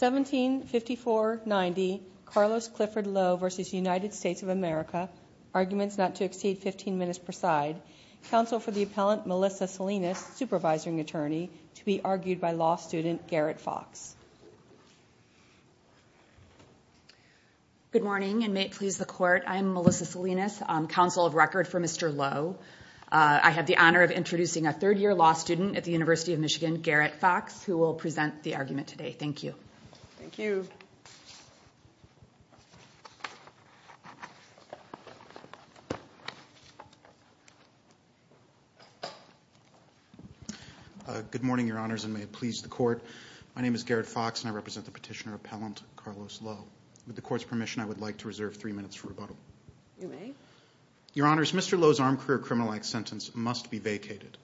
175490 Carlos Clifford Lowe v. United States of America Arguments not to exceed 15 minutes per side Counsel for the Appellant, Melissa Salinas, Supervisory Attorney, to be argued by law student Garrett Fox Good morning and may it please the Court, I am Melissa Salinas, Counsel of Record for Mr. Lowe. I have the honor of introducing a third-year law student at the University of Michigan, Garrett Fox, who will present the argument today. Thank you. Thank you. Good morning, Your Honors, and may it please the Court, my name is Garrett Fox and I represent the Petitioner Appellant, Carlos Lowe. With the Court's permission, I would like to reserve three minutes for rebuttal. You may. Your Honors, Mr. Lowe's armed career criminal act sentence must be vacated.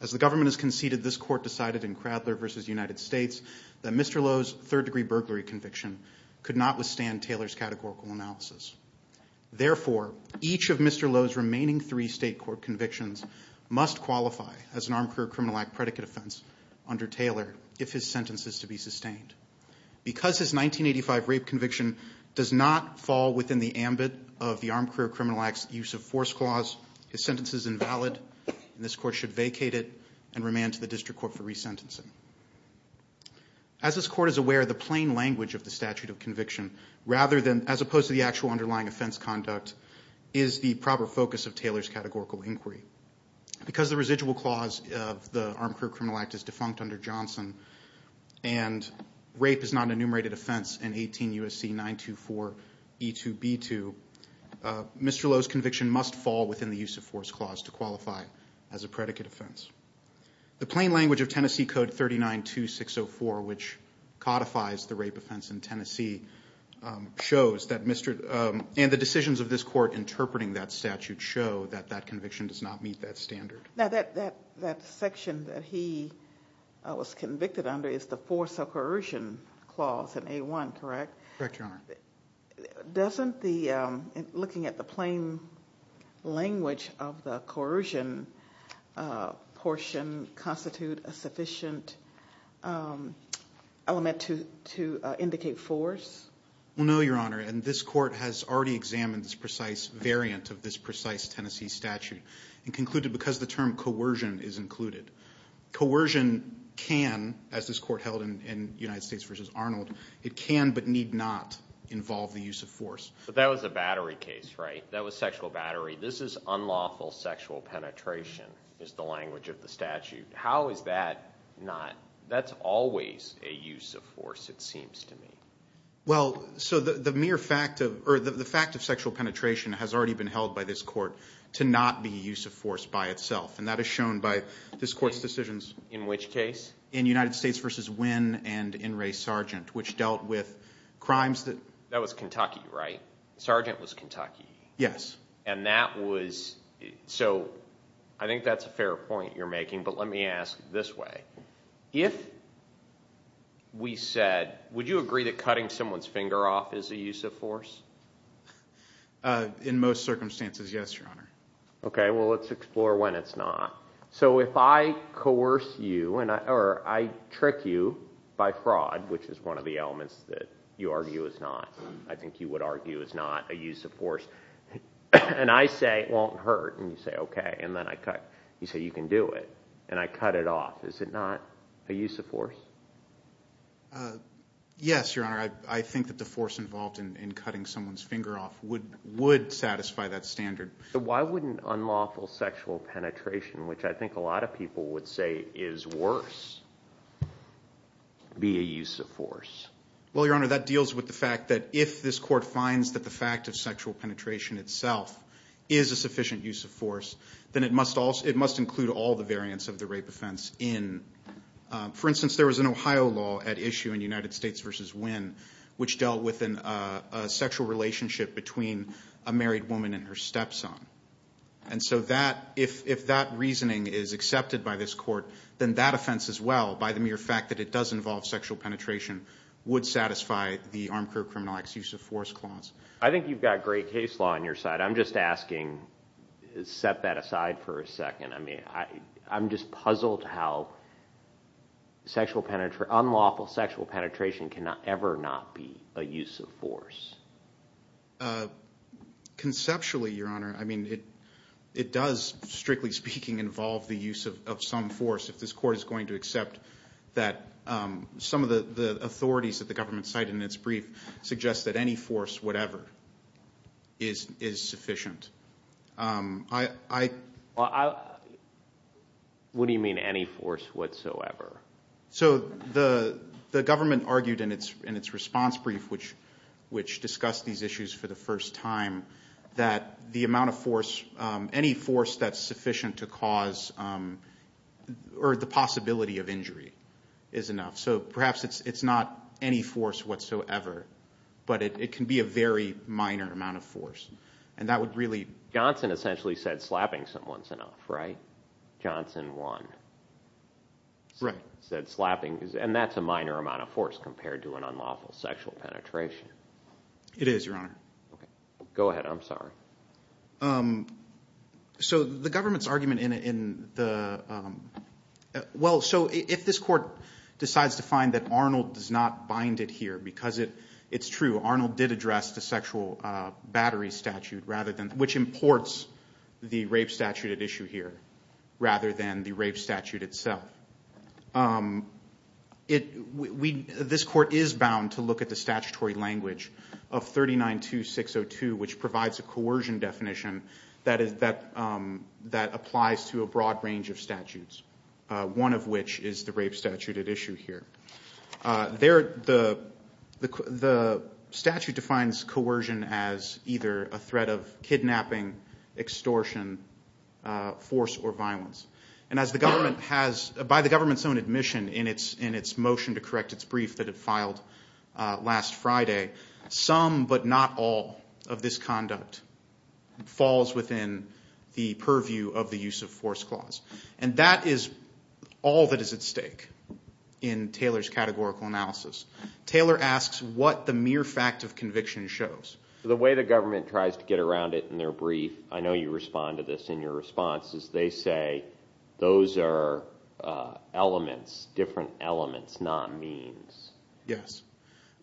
As the government has conceded, this Court decided in Cradler v. United States that Mr. Lowe's third-degree burglary conviction could not withstand Taylor's categorical analysis. Therefore, each of Mr. Lowe's remaining three state court convictions must qualify as an armed career criminal act predicate offense under Taylor if his sentence is to be sustained. Because his 1985 rape conviction does not fall within the ambit of the armed career criminal act's use of force clause, his sentence is invalid and this Court should vacate it and remand to the district court for resentencing. As this Court is aware, the plain language of the statute of conviction, as opposed to the actual underlying offense conduct, is the proper focus of Taylor's categorical inquiry. Because the residual clause of the armed career criminal act is defunct under Johnson and rape is not an enumerated offense in 18 U.S.C. 924E2B2, Mr. Lowe's conviction must fall within the use of force clause to qualify as a predicate offense. The plain language of Tennessee Code 39-2604, which codifies the rape offense in Tennessee, shows that Mr. and the decisions of this Court interpreting that statute show that that conviction does not meet that standard. Now that section that he was convicted under is the force of coercion clause in A1, correct? Correct, Your Honor. Doesn't looking at the plain language of the coercion portion constitute a sufficient element to indicate force? No, Your Honor, and this Court has already examined this precise variant of this precise Tennessee statute and concluded because the term coercion is included. Coercion can, as this Court held in United States v. Arnold, it can but need not involve the use of force. But that was a battery case, right? That was sexual battery. This is unlawful sexual penetration, is the language of the statute. How is that not? That's always a use of force, it seems to me. Well, so the mere fact of, or the fact of sexual penetration has already been held by this Court to not be use of force by itself, and that is shown by this Court's decisions. In which case? In United States v. Wynne and in Ray Sargent, which dealt with crimes that. That was Kentucky, right? Sargent was Kentucky. Yes. And that was, so I think that's a fair point you're making, but let me ask this way. If we said, would you agree that cutting someone's finger off is a use of force? In most circumstances, yes, Your Honor. Okay, well let's explore when it's not. So if I coerce you, or I trick you by fraud, which is one of the elements that you argue is not, I think you would argue is not a use of force, and I say it won't hurt, and you say okay, and then I cut. You say you can do it, and I cut it off. Is it not a use of force? Yes, Your Honor. I think that the force involved in cutting someone's finger off would satisfy that standard. Why wouldn't unlawful sexual penetration, which I think a lot of people would say is worse, be a use of force? Well, Your Honor, that deals with the fact that if this Court finds that the fact of it must include all the variants of the rape offense in, for instance, there was an Ohio law at issue in United States v. Wynne, which dealt with a sexual relationship between a married woman and her stepson. And so if that reasoning is accepted by this Court, then that offense as well, by the mere fact that it does involve sexual penetration, would satisfy the Armed Career Criminal Act's use of force clause. I think you've got great case law on your side. I'm just asking, set that aside for a second. I'm just puzzled how unlawful sexual penetration can ever not be a use of force. Conceptually, Your Honor, it does, strictly speaking, involve the use of some force if this Court is going to accept that some of the authorities that the government cite in its brief suggest that any force, whatever, is sufficient. What do you mean any force whatsoever? So the government argued in its response brief, which discussed these issues for the first time, that the amount of force, any force that's sufficient to cause, or the possibility of injury is enough. So perhaps it's not any force whatsoever, but it can be a very minor amount of force. And that would really... Johnson essentially said slapping someone's enough, right? Johnson one. Right. Said slapping, and that's a minor amount of force compared to an unlawful sexual penetration. Okay. Go ahead, I'm sorry. So the government's argument in the... Well, so if this Court decides to find that Arnold does not bind it here, because it's true, Arnold did address the sexual battery statute, which imports the rape statute at issue here, rather than the rape statute itself. However, this Court is bound to look at the statutory language of 39.2602, which provides a coercion definition that applies to a broad range of statutes, one of which is the rape statute at issue here. The statute defines coercion as either a threat of kidnapping, extortion, force, or violence. And as the government has, by the government's own admission in its motion to correct its brief that it filed last Friday, some but not all of this conduct falls within the purview of the use of force clause. And that is all that is at stake in Taylor's categorical analysis. Taylor asks what the mere fact of conviction shows. The way the government tries to get around it in their brief, I know you respond to this in your response, is they say those are elements, different elements, not means. Yes.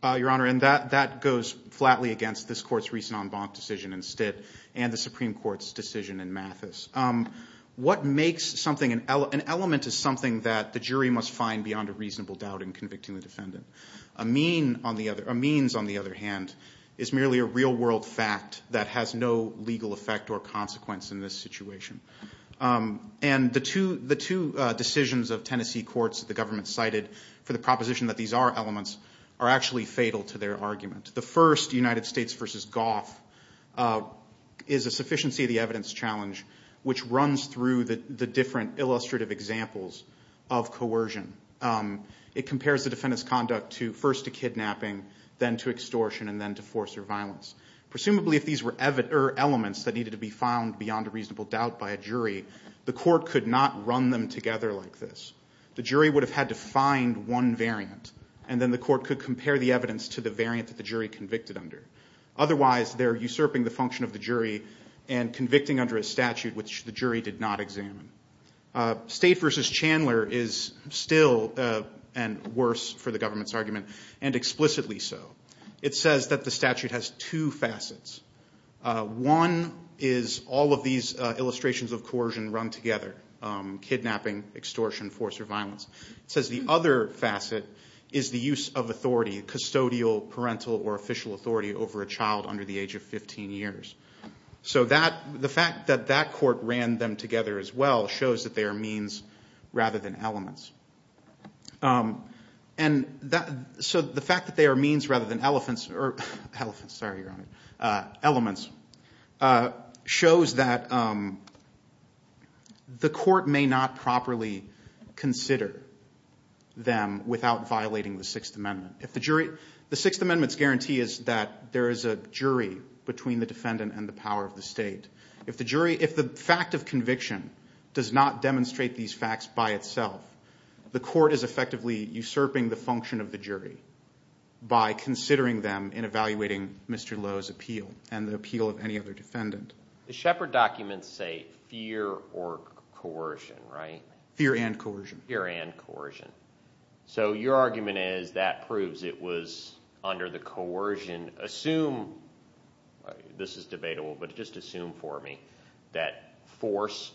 Your Honor, and that goes flatly against this Court's recent en banc decision in Stitt and the Supreme Court's decision in Mathis. What makes something an element is something that the jury must find beyond a reasonable doubt in convicting the defendant. A means, on the other hand, is merely a real world fact that has no legal effect or consequence in this situation. And the two decisions of Tennessee courts that the government cited for the proposition that these are elements are actually fatal to their argument. The first, United States v. Goff, is a sufficiency of the evidence challenge which runs through the different illustrative examples of coercion. It compares the defendant's conduct to, first to kidnapping, then to extortion, and then to force or violence. Presumably, if these were elements that needed to be found beyond a reasonable doubt by a jury, the court could not run them together like this. The jury would have had to find one variant, and then the court could compare the evidence to the variant that the jury convicted under. Otherwise, they're usurping the function of the jury and convicting under a statute which the jury did not examine. State v. Chandler is still, and worse for the government's argument, and explicitly so. It says that the statute has two facets. One is all of these illustrations of coercion run together, kidnapping, extortion, force or violence. It says the other facet is the use of authority, custodial, parental, or official authority over a child under the age of 15 years. So the fact that that court ran them together as well shows that they are means rather than elements. And so the fact that they are means rather than elements shows that the court may not properly consider them without violating the Sixth Amendment. The Sixth Amendment's guarantee is that there is a jury between the defendant and the power of the state. If the fact of conviction does not demonstrate these facts by itself, the court is effectively usurping the function of the jury by considering them in evaluating Mr. Lowe's appeal and the appeal of any other defendant. The Shepard documents say fear or coercion, right? Fear and coercion. Fear and coercion. So your argument is that proves it was under the coercion. Assume, this is debatable, but just assume for me that force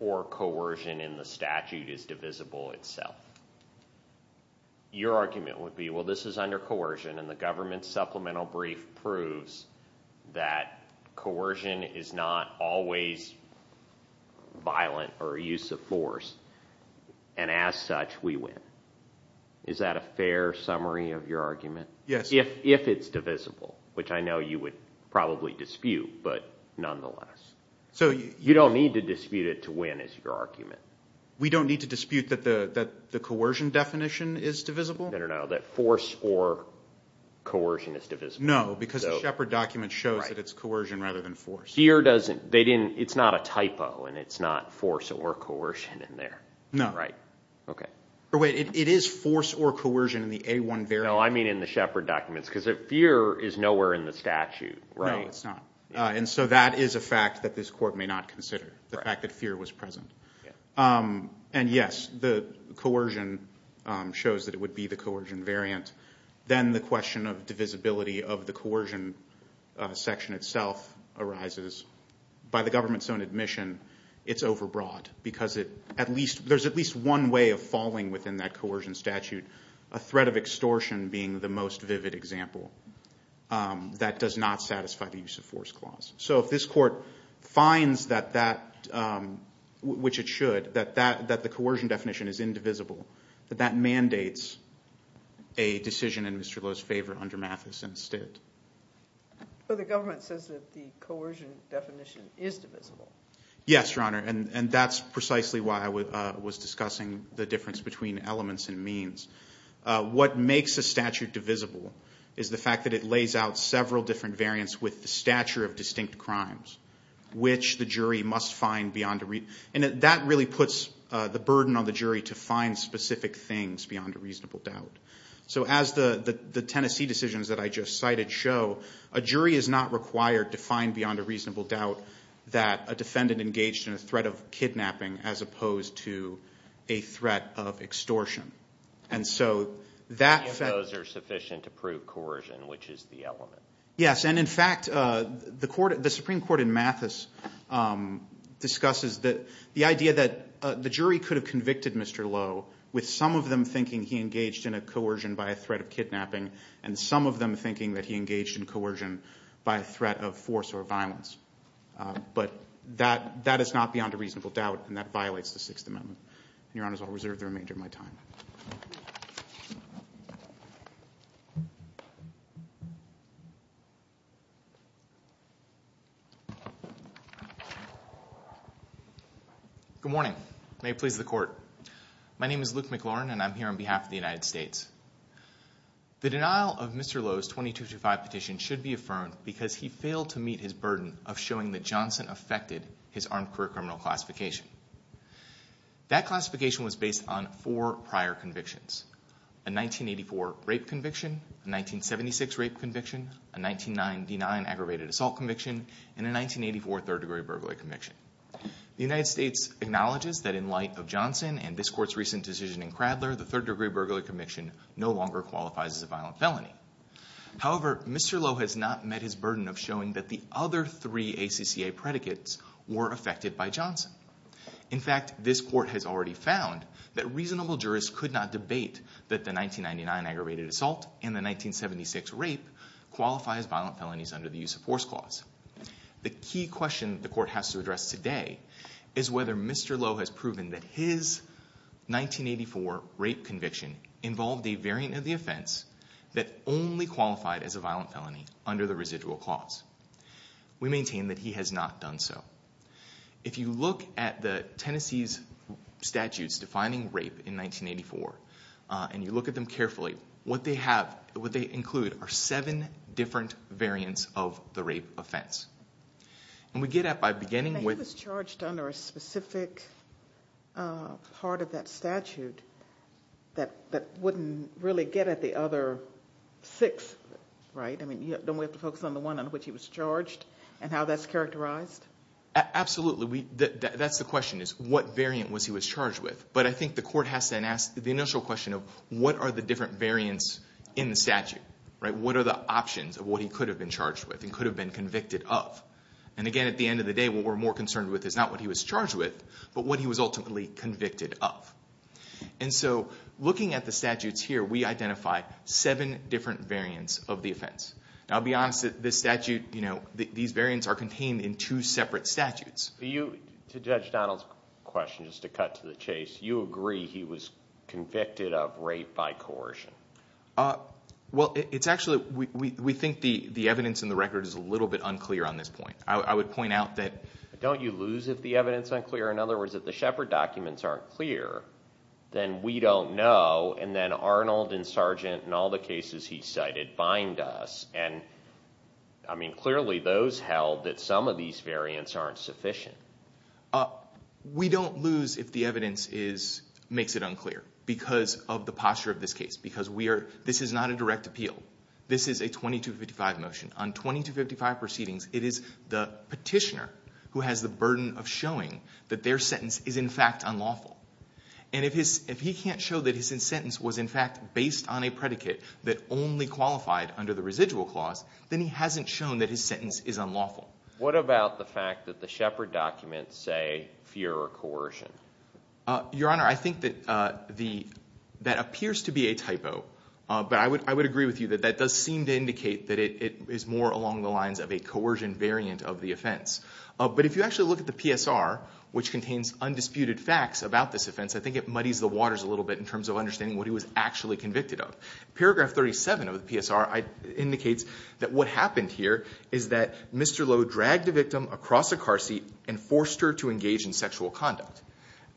or coercion in the statute is divisible itself. Your argument would be, well, this is under coercion and the government supplemental brief proves that coercion is not always violent or a use of force. And as such, we win. Is that a fair summary of your argument? Yes. If it's divisible, which I know you would probably dispute, but nonetheless. So you don't need to dispute it to win, is your argument. We don't need to dispute that the coercion definition is divisible? No, no, no. That force or coercion is divisible. No, because the Shepard document shows that it's coercion rather than force. Fear doesn't. It's not a typo and it's not force or coercion in there. No. Right. Okay. But wait, it is force or coercion in the A-1 variable? No, I mean in the Shepard documents, because fear is nowhere in the statute, right? No, it's not. And so that is a fact that this court may not consider, the fact that fear was present. And yes, the coercion shows that it would be the coercion variant. Then the question of divisibility of the coercion section itself arises. By the government's own admission, it's overbroad because there's at least one way of falling within that coercion statute. A threat of extortion being the most vivid example. That does not satisfy the use of force clause. So if this court finds that that, which it should, that the coercion definition is indivisible, that that mandates a decision in Mr. Lowe's favor under Mathis and Stitt. But the government says that the coercion definition is divisible. Yes, Your Honor. And that's precisely why I was discussing the difference between elements and means. What makes a statute divisible is the fact that it lays out several different variants with the stature of distinct crimes, which the jury must find beyond a reason. And that really puts the burden on the jury to find specific things beyond a reasonable doubt. So as the Tennessee decisions that I just cited show, a jury is not required to find beyond a reasonable doubt that a defendant engaged in a threat of kidnapping as opposed to a threat of extortion. And so that... Any of those are sufficient to prove coercion, which is the element. Yes. And in fact, the Supreme Court in Mathis discusses the idea that the jury could have convicted Mr. Lowe with some of them thinking he engaged in a coercion by a threat of kidnapping and some of them thinking that he engaged in coercion by a threat of force or violence. But that is not beyond a reasonable doubt, and that violates the Sixth Amendment. And, Your Honors, I'll reserve the remainder of my time. Good morning, and may it please the Court. My name is Luke McLaurin, and I'm here on behalf of the United States. The denial of Mr. Lowe's 2235 petition should be affirmed because he failed to meet his burden of showing that Johnson affected his armed career criminal classification. That classification was based on four prior convictions, a 1984 rape conviction, a 1976 rape conviction, a 1999 aggravated assault conviction, and a 1984 third-degree burglary conviction. The United States acknowledges that in light of Johnson and this Court's recent decision in Cradler, the third-degree burglary conviction no longer qualifies as a violent felony. However, Mr. Lowe has not met his burden of showing that the other three ACCA predicates were affected by Johnson. In fact, this Court has already found that reasonable jurists could not debate that the 1999 aggravated assault and the 1976 rape qualify as violent felonies under the use of force clause. The key question the Court has to address today is whether Mr. Lowe has proven that his 1984 rape conviction involved a variant of the offense that only qualified as a violent felony under the residual clause. We maintain that he has not done so. If you look at the Tennessee's statutes defining rape in 1984 and you look at them carefully, what they include are seven different variants of the rape offense. And we get at by beginning with... He was charged under a specific part of that statute that wouldn't really get at the other six, right? I mean, don't we have to focus on the one on which he was charged and how that's characterized? Absolutely. That's the question, is what variant was he was charged with? But I think the Court has to ask the initial question of what are the different variants in the statute, right? What are the options of what he could have been charged with and could have been convicted of? And again, at the end of the day, what we're more concerned with is not what he was charged with but what he was ultimately convicted of. And so looking at the statutes here, we identify seven different variants of the offense. Now, I'll be honest, this statute, you know, these variants are contained in two separate statutes. To Judge Donald's question, just to cut to the chase, you agree he was convicted of rape by coercion? Well, it's actually, we think the evidence in the record is a little bit unclear on this point. I would point out that... Don't you lose if the evidence is unclear? In other words, if the Shepard documents aren't clear, then we don't know and then Arnold and Sargent and all the cases he cited bind us. And, I mean, clearly those held that some of these variants aren't sufficient. We don't lose if the evidence is, makes it unclear because of the posture of this case, because we are, this is not a direct appeal. This is a 2255 motion. On 2255 proceedings, it is the petitioner who has the burden of showing that their sentence is in fact unlawful. And if he can't show that his sentence was in fact based on a predicate that only qualified under the residual clause, then he hasn't shown that his sentence is unlawful. What about the fact that the Shepard documents say fear or coercion? Your Honor, I think that the, that appears to be a typo. But I would agree with you that that does seem to indicate that it is more along the lines of a coercion variant of the offense. But if you actually look at the PSR, which contains undisputed facts about this offense, I think it muddies the waters a little bit in terms of understanding what he was actually convicted of. Paragraph 37 of the PSR indicates that what happened here is that Mr. Lowe dragged the victim across a car seat and forced her to engage in sexual conduct.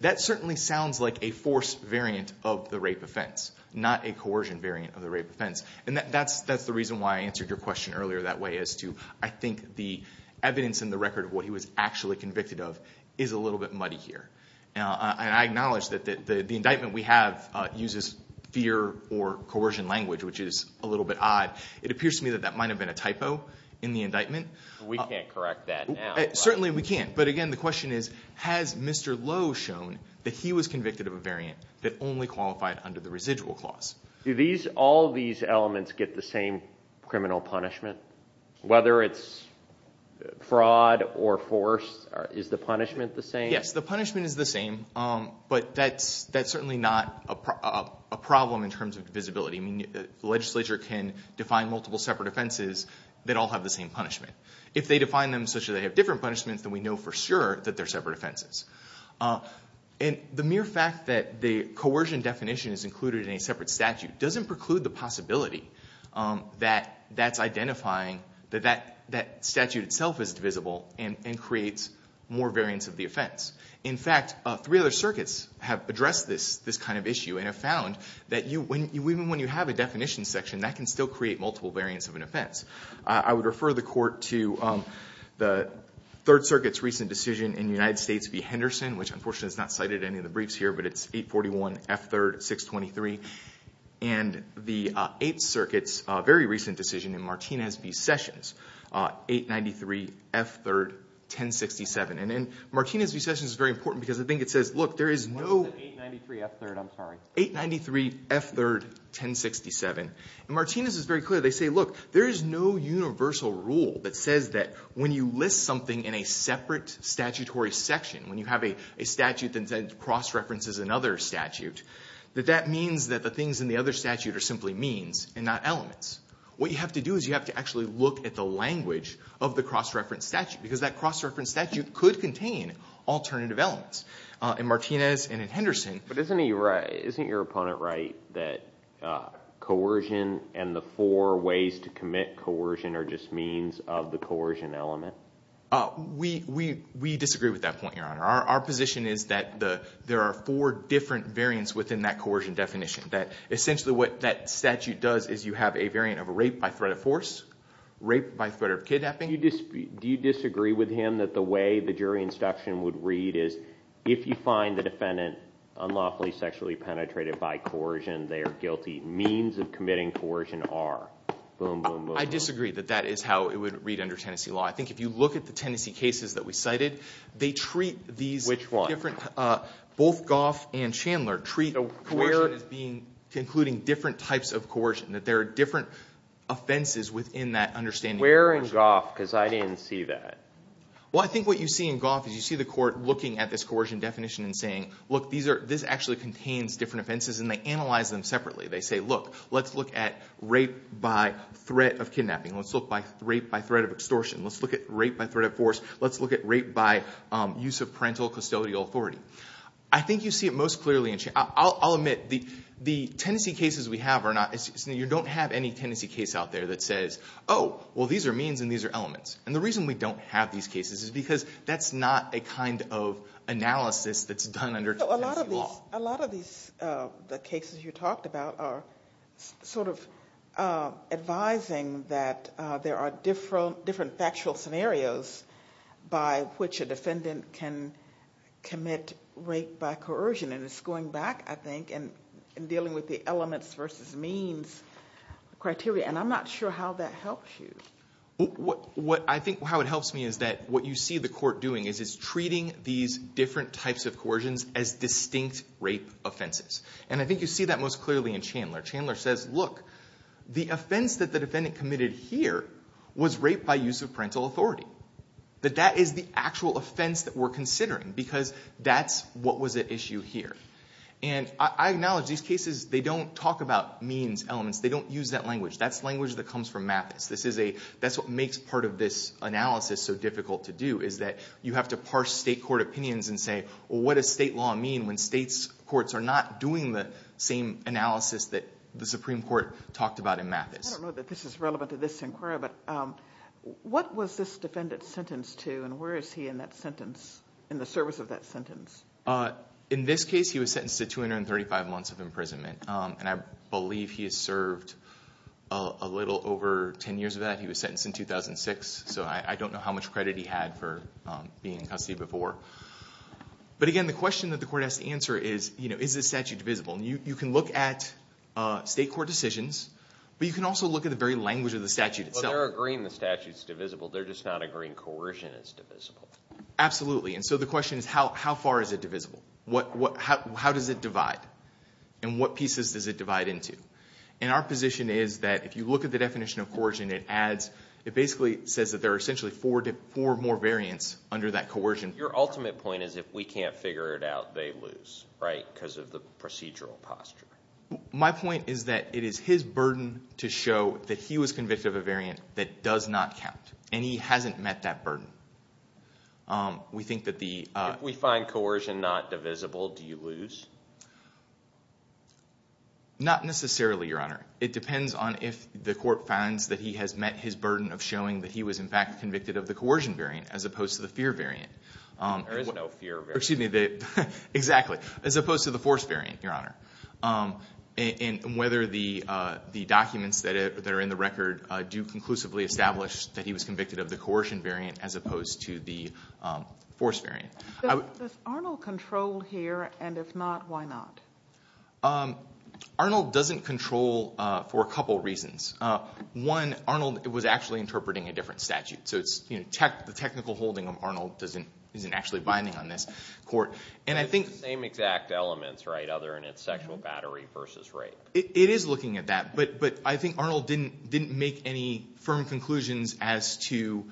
That certainly sounds like a forced variant of the rape offense, not a coercion variant of the rape offense. And that's the reason why I answered your question earlier that way, as to I think the evidence in the record of what he was actually convicted of is a little bit muddy here. And I acknowledge that the indictment we have uses fear or coercion language, which is a little bit odd. It appears to me that that might have been a typo in the indictment. We can't correct that now. Certainly we can't. But, again, the question is, has Mr. Lowe shown that he was convicted of a variant that only qualified under the residual clause? Do all these elements get the same criminal punishment, whether it's fraud or force? Is the punishment the same? Yes, the punishment is the same, but that's certainly not a problem in terms of visibility. The legislature can define multiple separate offenses that all have the same punishment. If they define them such that they have different punishments, then we know for sure that they're separate offenses. And the mere fact that the coercion definition is included in a separate statute doesn't preclude the possibility that that's identifying that that statute itself is divisible and creates more variants of the offense. In fact, three other circuits have addressed this kind of issue and have found that even when you have a definition section, that can still create multiple variants of an offense. I would refer the Court to the Third Circuit's recent decision in United States v. Henderson, which unfortunately is not cited in any of the briefs here, but it's 841 F. 3rd, 623, and the Eighth Circuit's very recent decision in Martinez v. Sessions, 893 F. 3rd, 1067. And then Martinez v. Sessions is very important because I think it says, look, there is no I said 893 F. 3rd, I'm sorry. 893 F. 3rd, 1067. And Martinez is very clear. They say, look, there is no universal rule that says that when you list something in a separate statutory section, when you have a statute that cross-references another statute, that that means that the things in the other statute are simply means and not elements. What you have to do is you have to actually look at the language of the cross-referenced statute because that cross-referenced statute could contain alternative elements. In Martinez and in Henderson. But isn't your opponent right that coercion and the four ways to commit coercion are just means of the coercion element? We disagree with that point, Your Honor. Our position is that there are four different variants within that coercion definition, that essentially what that statute does is you have a variant of rape by threat of force, rape by threat of kidnapping. Do you disagree with him that the way the jury instruction would read is, if you find the defendant unlawfully sexually penetrated by coercion, their guilty means of committing coercion are? I disagree that that is how it would read under Tennessee law. I think if you look at the Tennessee cases that we cited, they treat these different. Which one? Both Goff and Chandler treat coercion as being, including different types of coercion, that there are different offenses within that understanding. Where in Goff, because I didn't see that. Well, I think what you see in Goff is you see the court looking at this coercion definition and saying, look, this actually contains different offenses, and they analyze them separately. They say, look, let's look at rape by threat of kidnapping. Let's look at rape by threat of extortion. Let's look at rape by threat of force. Let's look at rape by use of parental custodial authority. I think you see it most clearly in Chandler. I'll admit the Tennessee cases we have are not, you don't have any Tennessee case out there that says, oh, well, these are means and these are elements. And the reason we don't have these cases is because that's not a kind of analysis that's done under Tennessee law. A lot of these cases you talked about are sort of advising that there are different factual scenarios by which a defendant can commit rape by coercion. And it's going back, I think, and dealing with the elements versus means criteria. And I'm not sure how that helps you. What I think how it helps me is that what you see the court doing is it's treating these different types of coercions as distinct rape offenses. And I think you see that most clearly in Chandler. Chandler says, look, the offense that the defendant committed here was rape by use of parental authority. That that is the actual offense that we're considering because that's what was at issue here. And I acknowledge these cases, they don't talk about means, elements. They don't use that language. That's language that comes from Mathis. That's what makes part of this analysis so difficult to do is that you have to parse state court opinions and say, well, what does state law mean when state courts are not doing the same analysis that the Supreme Court talked about in Mathis? I don't know that this is relevant to this inquiry, but what was this defendant sentenced to? And where is he in that sentence, in the service of that sentence? In this case, he was sentenced to 235 months of imprisonment. And I believe he has served a little over 10 years of that. He was sentenced in 2006. So I don't know how much credit he had for being in custody before. But, again, the question that the court has to answer is, you know, is this statute divisible? And you can look at state court decisions, but you can also look at the very language of the statute itself. Well, they're agreeing the statute's divisible. They're just not agreeing coercion is divisible. Absolutely. And so the question is, how far is it divisible? How does it divide? And what pieces does it divide into? And our position is that if you look at the definition of coercion, it adds, it basically says that there are essentially four more variants under that coercion. Your ultimate point is if we can't figure it out, they lose, right, because of the procedural posture. My point is that it is his burden to show that he was convicted of a variant that does not count. And he hasn't met that burden. If we find coercion not divisible, do you lose? Not necessarily, Your Honor. It depends on if the court finds that he has met his burden of showing that he was, in fact, convicted of the coercion variant as opposed to the fear variant. There is no fear variant. Excuse me. Exactly. As opposed to the force variant, Your Honor. And whether the documents that are in the record do conclusively establish that he was convicted of the coercion variant as opposed to the force variant. Does Arnold control here? And if not, why not? Arnold doesn't control for a couple reasons. One, Arnold was actually interpreting a different statute. So the technical holding of Arnold isn't actually binding on this court. And I think the same exact elements, right, other than it's sexual battery versus rape. It is looking at that. But I think Arnold didn't make any firm conclusions as to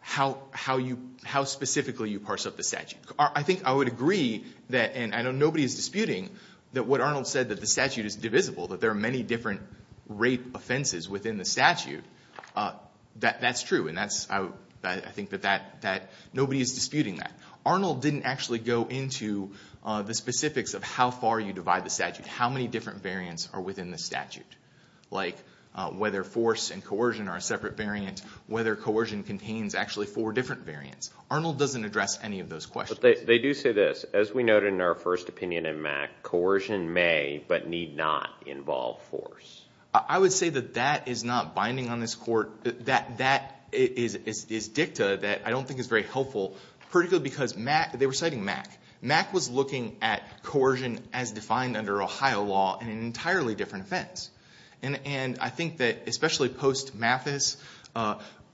how specifically you parse up the statute. I think I would agree that, and I know nobody is disputing, that what Arnold said, that the statute is divisible, that there are many different rape offenses within the statute, that's true. And I think that nobody is disputing that. Arnold didn't actually go into the specifics of how far you divide the statute, how many different variants are within the statute. Like whether force and coercion are a separate variant, whether coercion contains actually four different variants. Arnold doesn't address any of those questions. But they do say this, as we noted in our first opinion in Mack, coercion may but need not involve force. I would say that that is not binding on this court. That is dicta that I don't think is very helpful, particularly because they were citing Mack. Mack was looking at coercion as defined under Ohio law in an entirely different offense. And I think that, especially post-Mathis,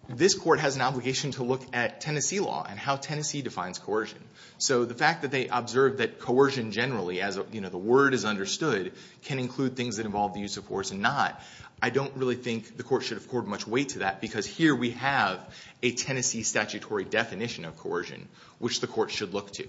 this court has an obligation to look at Tennessee law and how Tennessee defines coercion. So the fact that they observed that coercion generally, as the word is understood, can include things that involve the use of force and not, I don't really think the court should have poured much weight to that, because here we have a Tennessee statutory definition of coercion, which the court should look to.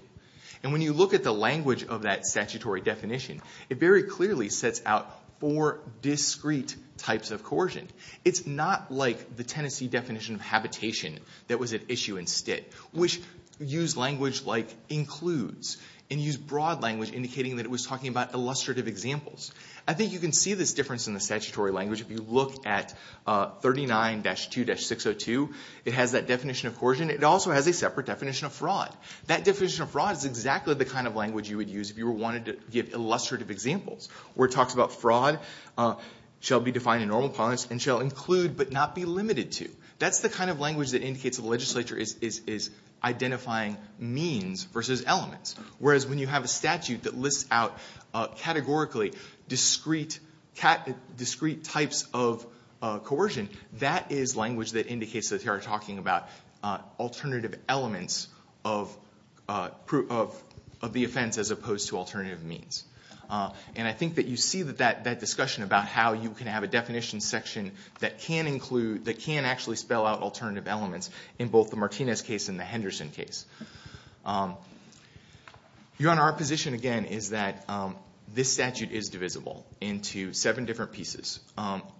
And when you look at the language of that statutory definition, it very clearly sets out four discrete types of coercion. It's not like the Tennessee definition of habitation that was at issue in Stitt, which used language like includes and used broad language indicating that it was talking about illustrative examples. I think you can see this difference in the statutory language if you look at 39-2-602. It has that definition of coercion. It also has a separate definition of fraud. That definition of fraud is exactly the kind of language you would use if you wanted to give illustrative examples, where it talks about fraud shall be defined in normal punishments and shall include but not be limited to. That's the kind of language that indicates the legislature is identifying means versus elements, whereas when you have a statute that lists out categorically discrete types of coercion, that is language that indicates that they are talking about alternative elements of the offense as opposed to alternative means. And I think that you see that discussion about how you can have a definition section that can include, that can actually spell out alternative elements in both the Martinez case and the Henderson case. Your Honor, our position again is that this statute is divisible into seven different pieces,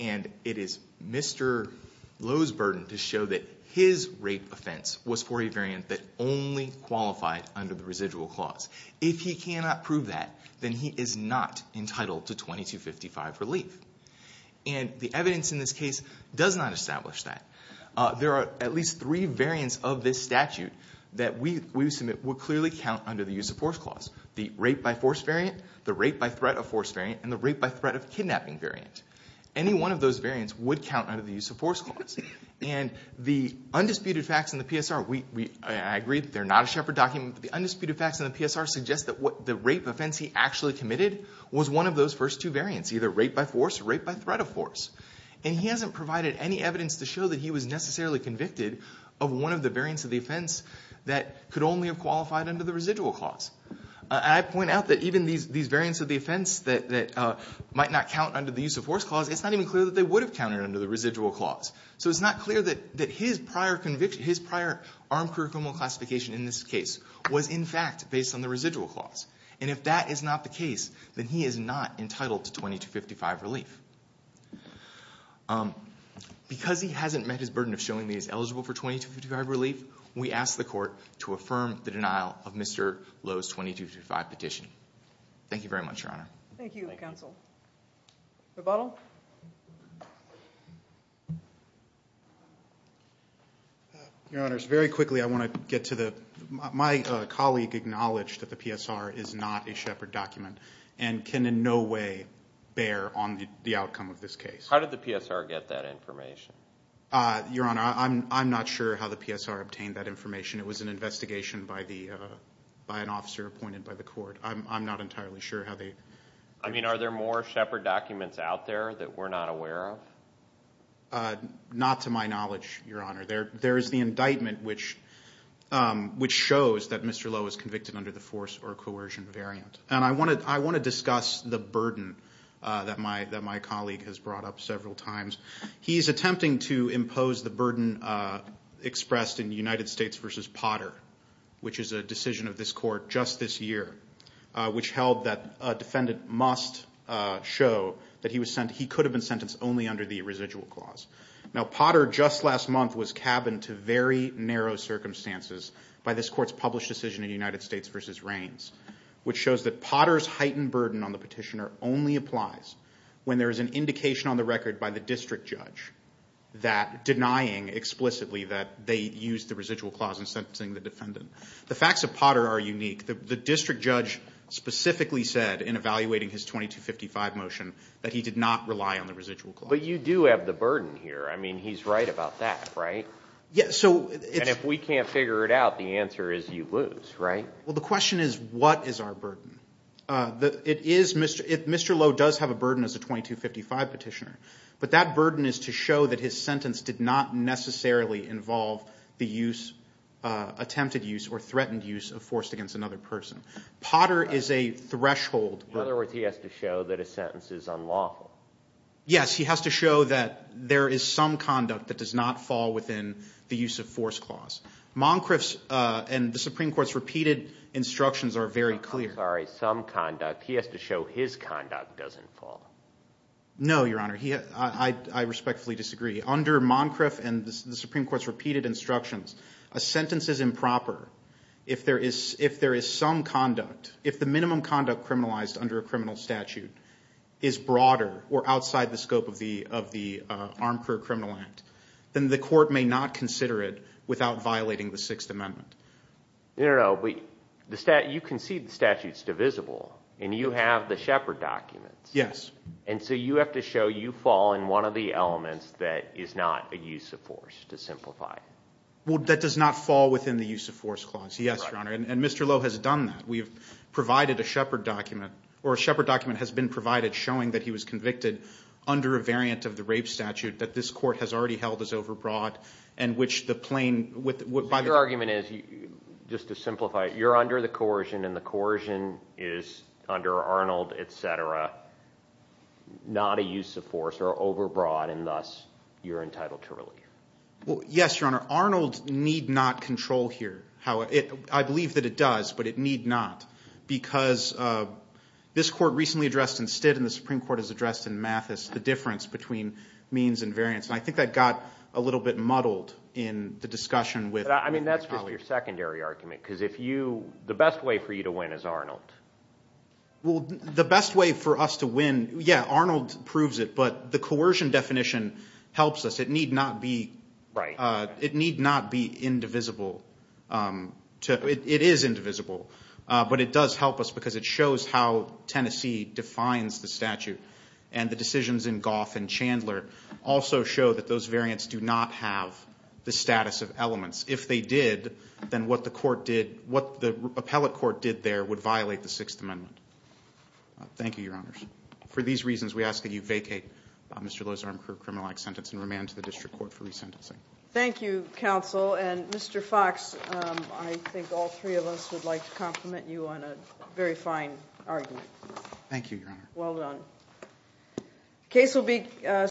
and it is Mr. Lowe's burden to show that his rape offense was for a variant that only qualified under the residual clause. If he cannot prove that, then he is not entitled to 2255 relief. And the evidence in this case does not establish that. There are at least three variants of this statute that we submit would clearly count under the use of force clause, the rape-by-force variant, the rape-by-threat-of-force variant, and the rape-by-threat-of-kidnapping variant. Any one of those variants would count under the use of force clause. And the undisputed facts in the PSR, I agree they're not a Shepard document, but the undisputed facts in the PSR suggest that the rape offense he actually committed was one of those first two variants, either rape-by-force or rape-by-threat-of-force. And he hasn't provided any evidence to show that he was necessarily convicted of one of the variants of the offense that could only have qualified under the residual clause. I point out that even these variants of the offense that might not count under the use of force clause, it's not even clear that they would have counted under the residual clause. So it's not clear that his prior armed career criminal classification in this case was, in fact, based on the residual clause. And if that is not the case, then he is not entitled to 2255 relief. Because he hasn't met his burden of showing that he's eligible for 2255 relief, we ask the court to affirm the denial of Mr. Lowe's 2255 petition. Thank you very much, Your Honor. Thank you, counsel. Rebuttal? Your Honors, very quickly I want to get to the my colleague acknowledged that the PSR is not a Shepard document and can in no way bear on the outcome of this case. How did the PSR get that information? Your Honor, I'm not sure how the PSR obtained that information. It was an investigation by an officer appointed by the court. I'm not entirely sure how they— I mean, are there more Shepard documents out there that we're not aware of? Not to my knowledge, Your Honor. There is the indictment which shows that Mr. Lowe is convicted under the force or coercion variant. And I want to discuss the burden that my colleague has brought up several times. He is attempting to impose the burden expressed in United States v. Potter, which is a decision of this court just this year, which held that a defendant must show that he could have been sentenced only under the residual clause. Now, Potter, just last month, was cabined to very narrow circumstances by this court's published decision in United States v. Raines, which shows that Potter's heightened burden on the petitioner only applies when there is an indication on the record by the district judge that denying explicitly that they used the residual clause in sentencing the defendant. The facts of Potter are unique. The district judge specifically said in evaluating his 2255 motion that he did not rely on the residual clause. But you do have the burden here. I mean, he's right about that, right? Yes, so— And if we can't figure it out, the answer is you lose, right? Well, the question is what is our burden? It is—Mr. Lowe does have a burden as a 2255 petitioner. But that burden is to show that his sentence did not necessarily involve the use, attempted use or threatened use of force against another person. Potter is a threshold— In other words, he has to show that his sentence is unlawful. Yes, he has to show that there is some conduct that does not fall within the use of force clause. Moncrief's and the Supreme Court's repeated instructions are very clear. I'm sorry, some conduct. He has to show his conduct doesn't fall. No, Your Honor. I respectfully disagree. Under Moncrief and the Supreme Court's repeated instructions, a sentence is improper if there is some conduct. If the minimum conduct criminalized under a criminal statute is broader or outside the scope of the Armed Career Criminal Act, then the court may not consider it without violating the Sixth Amendment. No, no, no. You concede the statute's divisible, and you have the Shepard documents. Yes. And so you have to show you fall in one of the elements that is not a use of force to simplify. Well, that does not fall within the use of force clause, yes, Your Honor. And Mr. Lowe has done that. We have provided a Shepard document, or a Shepard document has been provided showing that he was convicted under a variant of the rape statute that this court has already held as overbroad and which the plain would, by the way. So your argument is, just to simplify, you're under the coercion, and the coercion is under Arnold, et cetera, not a use of force or overbroad, and thus you're entitled to relief. Well, yes, Your Honor. Arnold need not control here. I believe that it does, but it need not, because this court recently addressed in Stitt, and the Supreme Court has addressed in Mathis the difference between means and variance, and I think that got a little bit muddled in the discussion with my colleagues. But, I mean, that's just your secondary argument, because if you, the best way for you to win is Arnold. Well, the best way for us to win, yeah, Arnold proves it, but the coercion definition helps us. It need not be indivisible. It is indivisible, but it does help us, because it shows how Tennessee defines the statute, and the decisions in Goff and Chandler also show that those variants do not have the status of elements. If they did, then what the court did, what the appellate court did there would violate the Sixth Amendment. Thank you, Your Honors. For these reasons, we ask that you vacate Mr. Lozarum's criminal act sentence and remand to the district court for resentencing. Thank you, Counsel, and Mr. Fox, I think all three of us would like to compliment you on a very fine argument. Thank you, Your Honor. Well done.